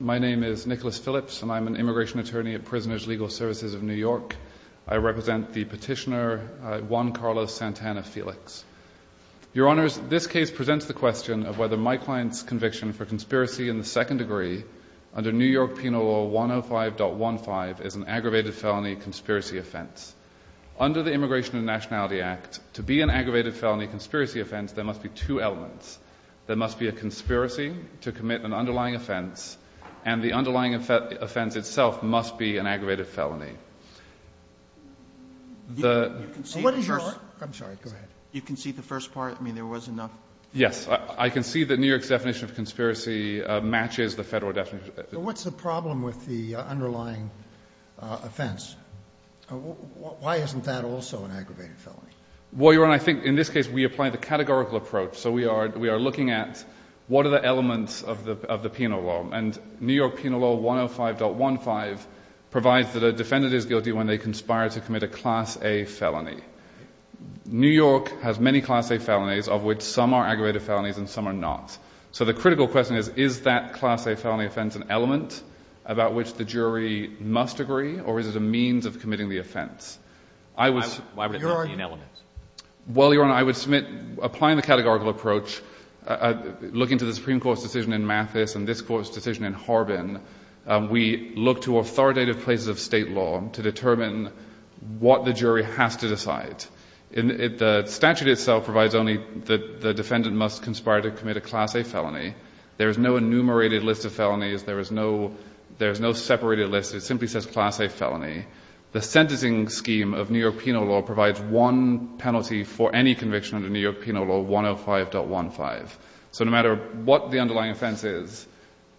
My name is Nicholas Phillips, and I'm an immigration attorney at Prisoners' Legal Services of New York. I represent the petitioner Juan Carlos Santana-Felix. Your Honors, this case presents the question of whether my client's conviction for conspiracy in the second degree under New York Penal Law 105.15 is an aggravated felony conspiracy offense. Under the Immigration and Nationality Act, to be an aggravated felony conspiracy offense, there must be two elements. There must be a conspiracy to commit an underlying offense, and the underlying offense itself must be an aggravated felony. The ---- Sotomayor What is your ---- Phillips I'm sorry. Go ahead. Sotomayor You concede the first part? I mean, there was enough ---- Phillips Yes. I concede that New York's definition of conspiracy matches the Federal definition. Sotomayor But what's the problem with the underlying offense? Why isn't that also an aggravated felony? Phillips Well, Your Honor, I think in this case we apply the categorical approach. So we are looking at what are the elements of the penal law. And New York Penal Law 105.15 provides that a defendant is guilty when they conspire to commit a Class A felony. New York has many Class A felonies, of which some are aggravated felonies and some are not. So the critical question is, is that Class A felony offense an element about which the jury must agree, or is it a means of committing the offense? I was ---- Phillips Well, Your Honor, I would submit applying the categorical approach, looking to the Supreme Court's decision in Mathis and this Court's decision in Harbin, we look to authoritative places of State law to determine what the jury has to decide. The statute itself provides only that the defendant must conspire to commit a Class A felony. There is no enumerated list of felonies. There is no separated list. It simply says Class A felony. The sentencing scheme of New York Penal Law provides one penalty for any conviction under New York Penal Law 105.15. So no matter what the underlying offense is,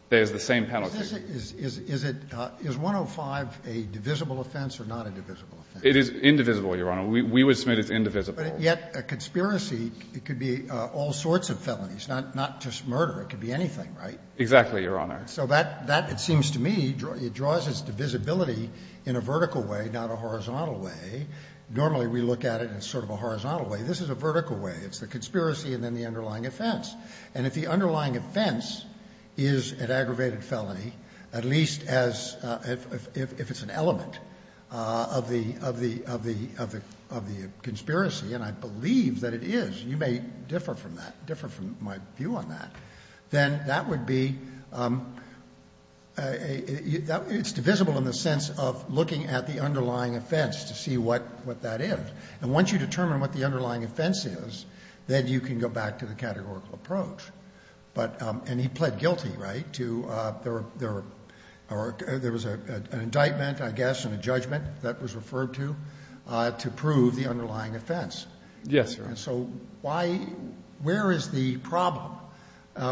there is the same penalty. Scalia Is it ---- is 105 a divisible offense or not a divisible offense? Phillips It is indivisible, Your Honor. We would submit it's indivisible. Scalia But yet a conspiracy, it could be all sorts of felonies, not just murder. It could be anything, right? Phillips Exactly, Your Honor. So that, it seems to me, it draws its divisibility in a vertical way, not a horizontal way. Normally we look at it in sort of a horizontal way. This is a vertical way. It's the conspiracy and then the underlying offense. And if the underlying offense is an aggravated felony, at least as if it's an element of the conspiracy, and I believe that it is, you may differ from that, differ from my view on that, then that would be, it's divisible in the sense of looking at the underlying offense to see what that is. And once you determine what the underlying offense is, then you can go back to the categorical approach. But, and he pled guilty, right, to, there was an indictment, I guess, and a judgment that was referred to, to prove the underlying offense. Phillips Yes, Your Honor. And so why, where is the problem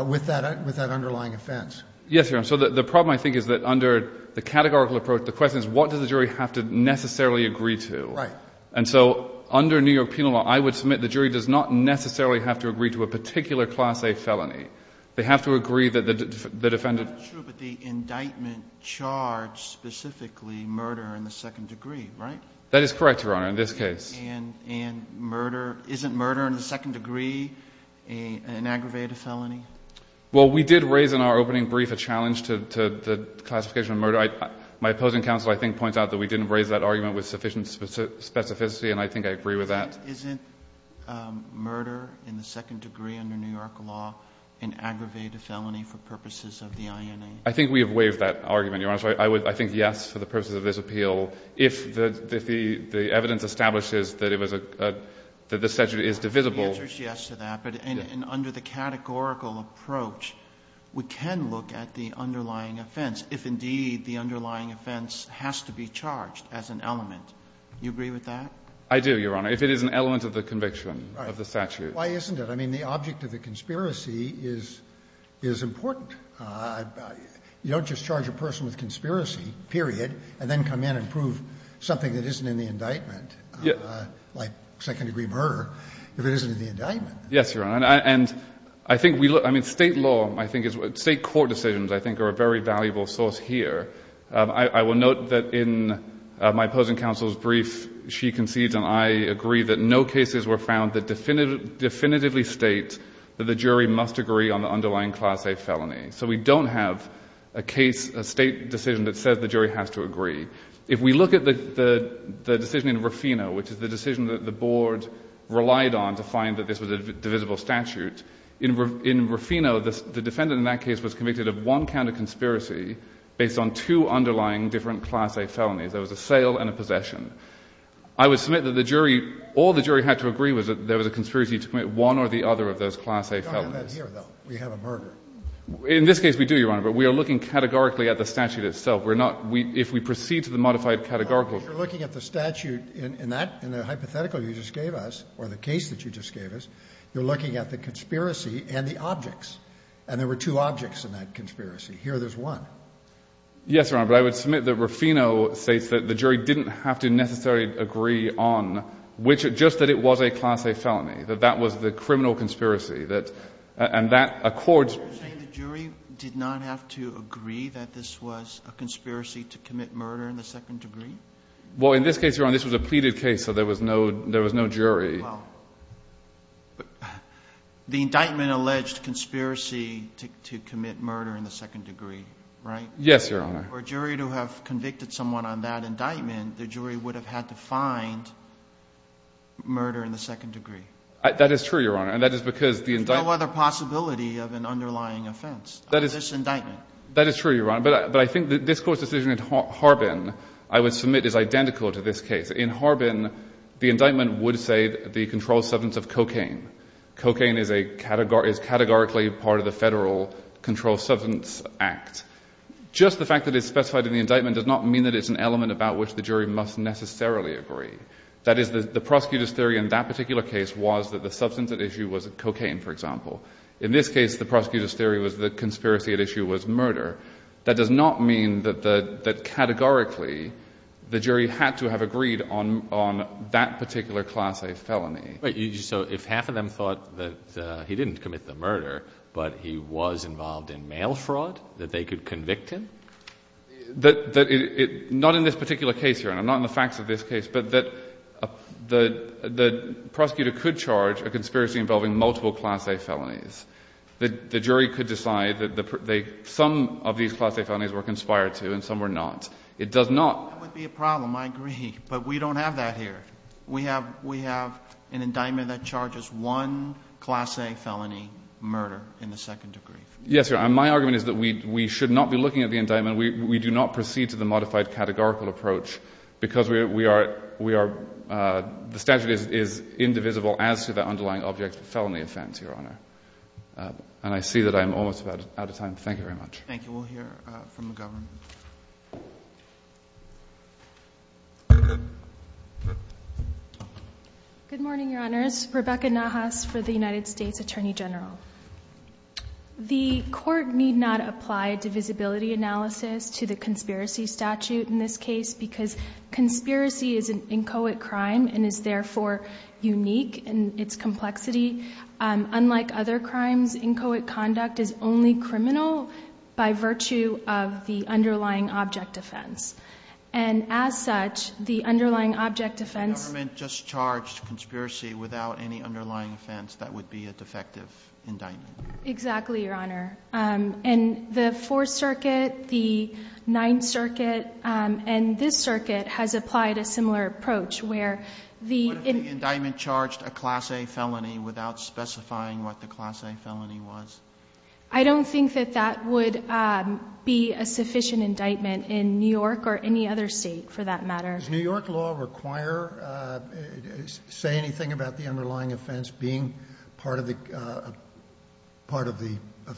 with that, with that underlying offense? Phillips Yes, Your Honor. So the problem, I think, is that under the categorical approach, the question is what does the jury have to necessarily agree to? Phillips Right. Phillips And so under New York penal law, I would submit the jury does not necessarily have to agree to a particular Class A felony. They have to agree that the defendant… Sotomayor That's true, but the indictment charged specifically murder in the second degree, right? Phillips That is correct, Your Honor, in this case. Sotomayor And murder, isn't murder in the second degree an aggravated felony? Phillips Well, we did raise in our opening brief a challenge to the classification of murder. My opposing counsel, I think, points out that we didn't raise that argument with sufficient specificity, and I think I agree with that. Sotomayor Isn't murder in the second degree under New York law an aggravated felony for purposes of the INA? Phillips I think we have waived that argument, Your Honor. I think yes, for the purposes of this appeal. If the evidence establishes that it was a – that the statute is divisible. Roberts The answer is yes to that. But under the categorical approach, we can look at the underlying offense if, indeed, the underlying offense has to be charged as an element. Do you agree with that? Phillips I do, Your Honor, if it is an element of the conviction of the statute. Scalia Why isn't it? I mean, the object of the conspiracy is important. You don't just charge a person with conspiracy, period, and then come in and prove something that isn't in the indictment, like second-degree murder, if it isn't in the indictment. Phillips Yes, Your Honor. And I think we – I mean, State law, I think – State court decisions, I think, are a very valuable source here. I will note that in my opposing counsel's brief, she concedes and I agree that no So we don't have a case, a State decision that says the jury has to agree. If we look at the decision in Rufino, which is the decision that the Board relied on to find that this was a divisible statute, in Rufino, the defendant in that case was convicted of one count of conspiracy based on two underlying different Class A felonies. There was a sale and a possession. I would submit that the jury – all the jury had to agree was that there was a conspiracy to commit one or the other of those Class A felonies. We don't have that here, though. We have a murder. In this case, we do, Your Honor. But we are looking categorically at the statute itself. We're not – if we proceed to the modified categorical – But you're looking at the statute in that – in the hypothetical you just gave us, or the case that you just gave us, you're looking at the conspiracy and the objects. And there were two objects in that conspiracy. Here there's one. Yes, Your Honor. But I would submit that Rufino states that the jury didn't have to necessarily agree on which – just that it was a Class A felony, that that was the criminal conspiracy, that – and that accords – You're saying the jury did not have to agree that this was a conspiracy to commit murder in the second degree? Well, in this case, Your Honor, this was a pleaded case, so there was no – there was no jury. Well, the indictment alleged conspiracy to commit murder in the second degree, right? Yes, Your Honor. For a jury to have convicted someone on that indictment, the jury would have had to find murder in the second degree. That is true, Your Honor. And that is because the indictment – There's no other possibility of an underlying offense on this indictment. That is true, Your Honor. But I think that this Court's decision in Harbin, I would submit, is identical to this case. In Harbin, the indictment would say the controlled substance of cocaine. Cocaine is a – is categorically part of the Federal Controlled Substance Act. Just the fact that it's specified in the indictment does not mean that it's an element about which the jury must necessarily agree. That is, the prosecutor's theory in that particular case was that the substance at issue was cocaine, for example. In this case, the prosecutor's theory was the conspiracy at issue was murder. That does not mean that categorically the jury had to have agreed on that particular class A felony. So if half of them thought that he didn't commit the murder, but he was involved in mail fraud, that they could convict him? Not in this particular case, Your Honor. Not in the facts of this case. But that the prosecutor could charge a conspiracy involving multiple class A felonies. The jury could decide that some of these class A felonies were conspired to and some were not. It does not – That would be a problem, I agree. But we don't have that here. We have an indictment that charges one class A felony murder in the second degree. Yes, Your Honor. My argument is that we should not be looking at the indictment. We do not proceed to the modified categorical approach because we are – the statute is indivisible as to the underlying object of the felony offense, Your Honor. And I see that I'm almost out of time. Thank you very much. Thank you. We'll hear from the government. Good morning, Your Honors. Rebecca Nahas for the United States Attorney General. The court need not apply divisibility analysis to the conspiracy statute in this case because conspiracy is an inchoate crime and is therefore unique in its complexity. Unlike other crimes, inchoate conduct is only criminal by virtue of the underlying object offense. And as such, the underlying object offense – If the government just charged conspiracy without any underlying offense, that would be a defective indictment. Exactly, Your Honor. And the Fourth Circuit, the Ninth Circuit, and this circuit has applied a similar approach where the – What if the indictment charged a class A felony without specifying what the class A felony was? I don't think that that would be a sufficient indictment in New York or any other state for that matter. Does New York law require – say anything about the underlying offense being part of the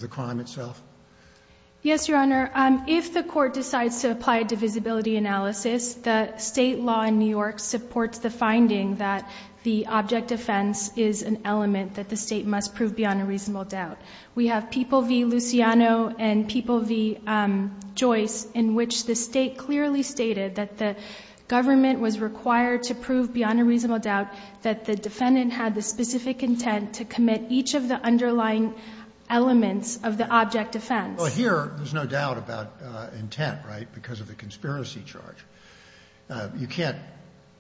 crime itself? Yes, Your Honor. If the court decides to apply divisibility analysis, the state law in New York supports the finding that the object offense is an element that the state must prove beyond a reasonable doubt. We have People v. Luciano and People v. Joyce in which the state clearly stated that the government was required to prove beyond a reasonable doubt that the defendant had the specific intent to commit each of the underlying elements of the object offense. Well, here there's no doubt about intent, right, because of the conspiracy charge. You can't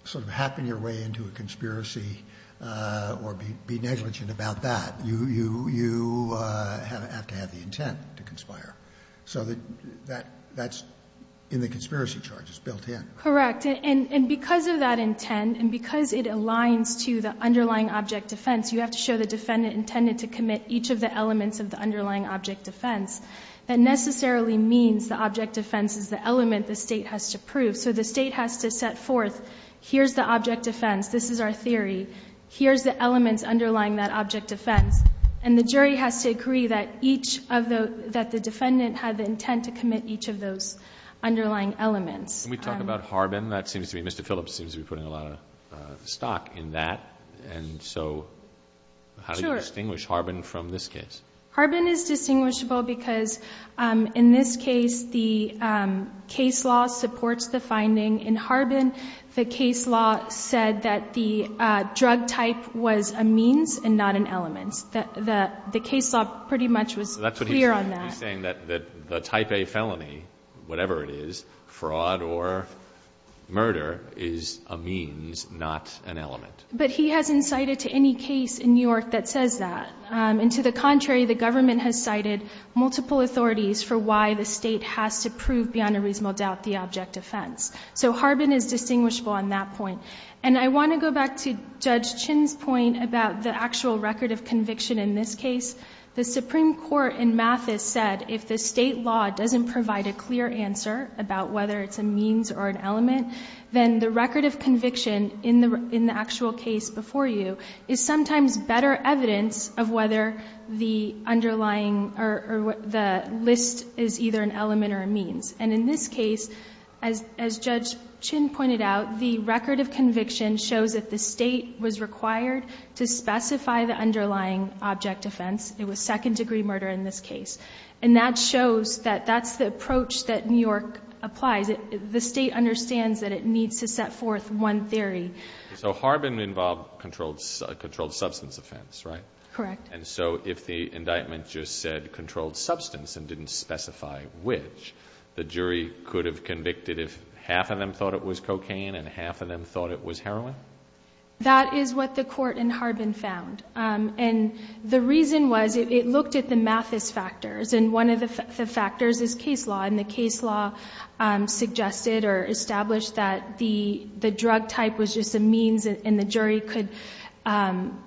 sort of happen your way into a conspiracy or be negligent about that. You have to have the intent to conspire. So that's in the conspiracy charges built in. Correct. And because of that intent and because it aligns to the underlying object offense, you have to show the defendant intended to commit each of the elements of the underlying object offense. That necessarily means the object offense is the element the state has to prove. So the state has to set forth, here's the object offense, this is our theory, here's the elements underlying that object offense. And the jury has to agree that the defendant had the intent to commit each of those underlying elements. Can we talk about Harbin? Mr. Phillips seems to be putting a lot of stock in that. And so how do you distinguish Harbin from this case? Harbin is distinguishable because in this case the case law supports the finding. In Harbin the case law said that the drug type was a means and not an element. The case law pretty much was clear on that. He's saying that the type A felony, whatever it is, fraud or murder, is a means not an element. But he hasn't cited to any case in New York that says that. And to the contrary, the government has cited multiple authorities for why the state has to prove beyond a reasonable doubt the object offense. So Harbin is distinguishable on that point. And I want to go back to Judge Chin's point about the actual record of conviction in this case. The Supreme Court in Mathis said if the state law doesn't provide a clear answer about whether it's a means or an element, then the record of conviction in the actual case before you is sometimes better evidence of whether the underlying or the list is either an element or a means. And in this case, as Judge Chin pointed out, the record of conviction shows that the state was required to specify the underlying object offense. It was second-degree murder in this case. And that shows that that's the approach that New York applies. The state understands that it needs to set forth one theory. So Harbin involved a controlled substance offense, right? Correct. And so if the indictment just said controlled substance and didn't specify which, the jury could have convicted if half of them thought it was cocaine and half of them thought it was heroin? That is what the court in Harbin found. And the reason was it looked at the Mathis factors. And one of the factors is case law. And the case law suggested or established that the drug type was just a means and the jury could,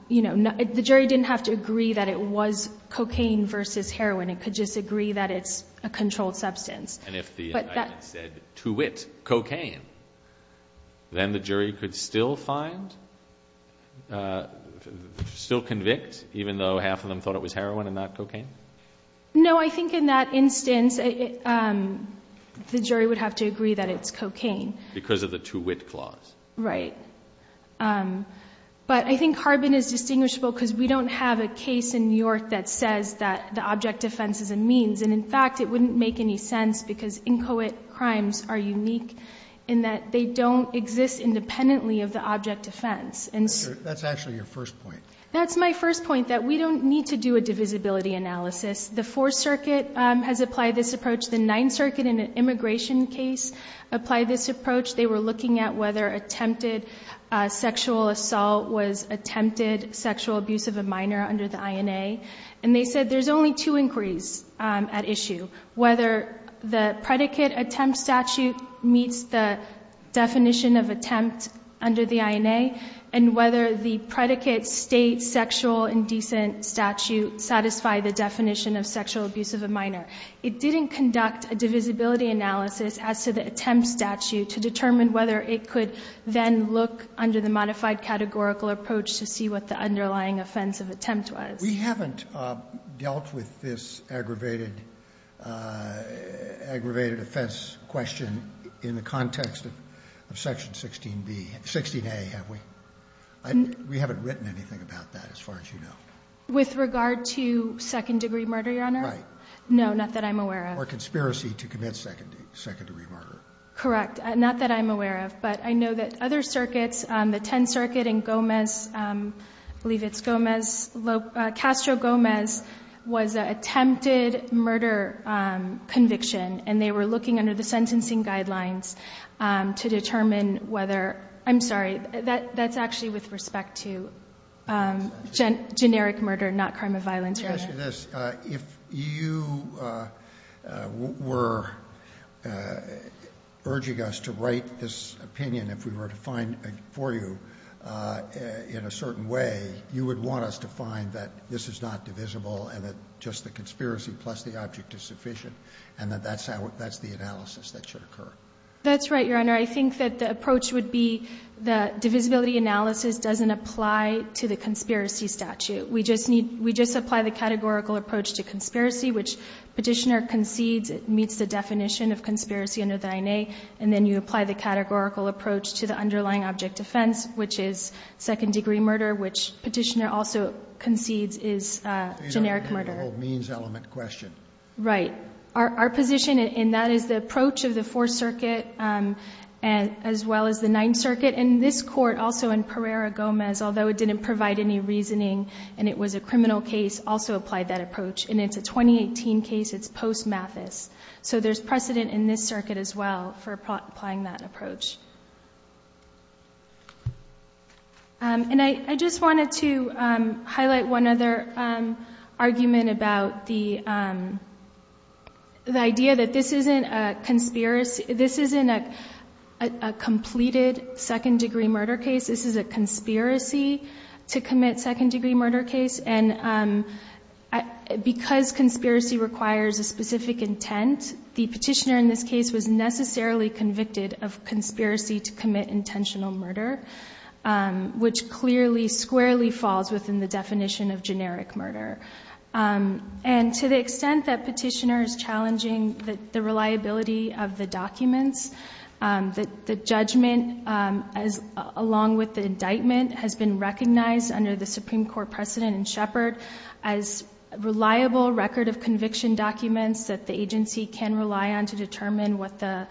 you know, the jury didn't have to agree that it was cocaine versus heroin. It could just agree that it's a controlled substance. And if the indictment said, to wit, cocaine, then the jury could still find, still convict even though half of them thought it was heroin and not cocaine? No, I think in that instance, the jury would have to agree that it's cocaine. Because of the to wit clause. Right. But I think Harbin is distinguishable because we don't have a case in New York that says that the object defense is a means. And, in fact, it wouldn't make any sense because inchoate crimes are unique in that they don't exist independently of the object defense. That's actually your first point. That's my first point, that we don't need to do a divisibility analysis. The Fourth Circuit has applied this approach. The Ninth Circuit in an immigration case applied this approach. They were looking at whether attempted sexual assault was attempted sexual abuse of a minor under the INA. And they said there's only two inquiries at issue, whether the predicate attempt statute meets the definition of attempt under the INA and whether the predicate state sexual indecent statute satisfied the definition of sexual abuse of a minor. It didn't conduct a divisibility analysis as to the attempt statute to determine whether it could then look under the modified categorical approach to see what the underlying offense of attempt was. We haven't dealt with this aggravated offense question in the context of Section 16A, have we? We haven't written anything about that as far as you know. With regard to second-degree murder, Your Honor? Right. No, not that I'm aware of. Or conspiracy to commit second-degree murder. Correct. Not that I'm aware of. But I know that other circuits, the Tenth Circuit and Gomez, I believe it's Gomez, Castro-Gomez, was an attempted murder conviction, and they were looking under the sentencing guidelines to determine whether ‑‑ I'm sorry, that's actually with respect to generic murder, not crime of violence, Your Honor. In addition to this, if you were urging us to write this opinion, if we were to find for you in a certain way, you would want us to find that this is not divisible and that just the conspiracy plus the object is sufficient and that that's the analysis that should occur. That's right, Your Honor. I think that the approach would be that divisibility analysis doesn't apply to the conspiracy statute. We just apply the categorical approach to conspiracy, which Petitioner concedes meets the definition of conspiracy under the INA, and then you apply the categorical approach to the underlying object offense, which is second-degree murder, which Petitioner also concedes is generic murder. The whole means element question. Right. Our position in that is the approach of the Fourth Circuit as well as the Ninth Circuit, and it was a criminal case also applied that approach, and it's a 2018 case. It's post‑Mathis. So, there's precedent in this circuit as well for applying that approach. I just wanted to highlight one other argument about the idea that this isn't a conspiracy. This isn't a completed second-degree murder case. This is a conspiracy to commit second-degree murder case, and because conspiracy requires a specific intent, the Petitioner in this case was necessarily convicted of conspiracy to commit intentional murder, which clearly squarely falls within the definition of generic murder. And to the extent that Petitioner is challenging the reliability of the documents, the judgment, along with the indictment, has been recognized under the Supreme Court precedent in Shepard as reliable record of conviction documents that the agency can rely on to determine what the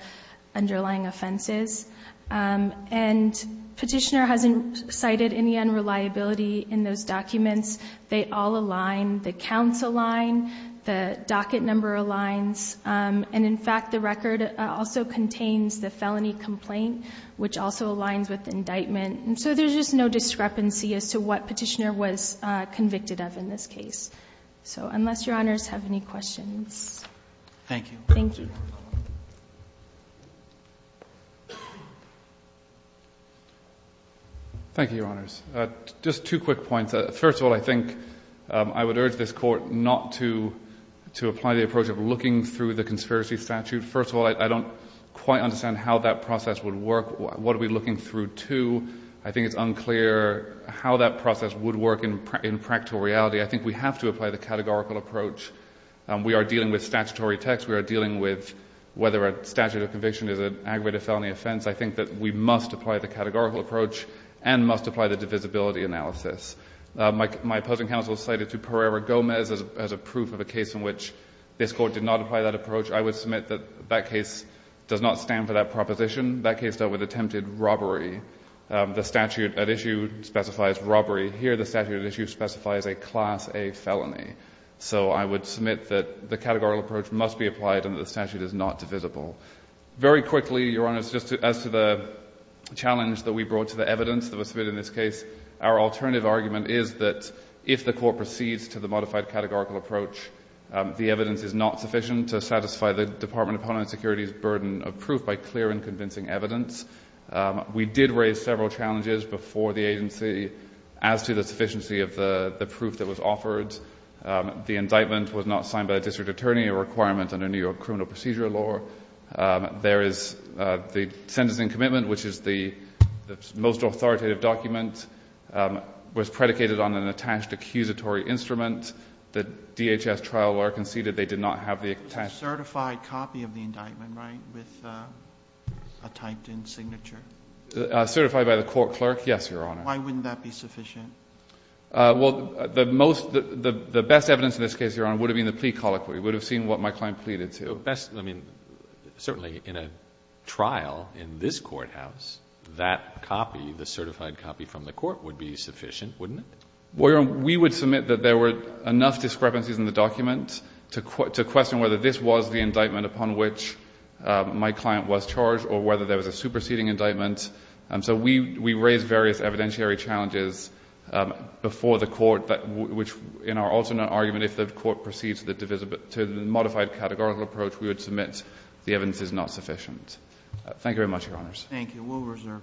underlying offense is. And Petitioner hasn't cited any unreliability in those documents. They all align. The counts align. The docket number aligns. And, in fact, the record also contains the felony complaint, which also aligns with indictment. And so there's just no discrepancy as to what Petitioner was convicted of in this case. So, unless Your Honors have any questions. Thank you. Thank you. Thank you, Your Honors. Just two quick points. First of all, I think I would urge this Court not to apply the approach of looking through the conspiracy statute. First of all, I don't quite understand how that process would work. What are we looking through to? I think it's unclear how that process would work in practical reality. I think we have to apply the categorical approach. We are dealing with statutory text. We are dealing with whether a statute of conviction is an aggravated felony offense. I think that we must apply the categorical approach and must apply the divisibility analysis. My opposing counsel cited to Pereira Gomez as a proof of a case in which this statute does not specify that approach. I would submit that that case does not stand for that proposition. That case dealt with attempted robbery. The statute at issue specifies robbery. Here the statute at issue specifies a Class A felony. So I would submit that the categorical approach must be applied and that the statute is not divisible. Very quickly, Your Honors, just as to the challenge that we brought to the evidence that was submitted in this case, our alternative argument is that if the Court proceeds to the modified categorical approach, the evidence is not sufficient to satisfy the Department of Homeland Security's burden of proof by clear and convincing evidence. We did raise several challenges before the agency as to the sufficiency of the proof that was offered. The indictment was not signed by a district attorney, a requirement under New York criminal procedure law. There is the sentencing commitment, which is the most authoritative document, was a statutory instrument. The DHS trial law conceded they did not have the attached. Sotomayor, certified copy of the indictment, right, with a typed-in signature? Certified by the court clerk? Yes, Your Honor. Why wouldn't that be sufficient? Well, the most, the best evidence in this case, Your Honor, would have been the plea colloquy. It would have seen what my client pleaded to. Best, I mean, certainly in a trial in this courthouse, that copy, the certified copy from the court, would be sufficient, wouldn't it? Well, Your Honor, we would submit that there were enough discrepancies in the document to question whether this was the indictment upon which my client was charged or whether there was a superseding indictment. So we raised various evidentiary challenges before the court, which in our alternate argument, if the court proceeds to the modified categorical approach, we would submit the evidence is not sufficient. Thank you very much, Your Honors. Thank you.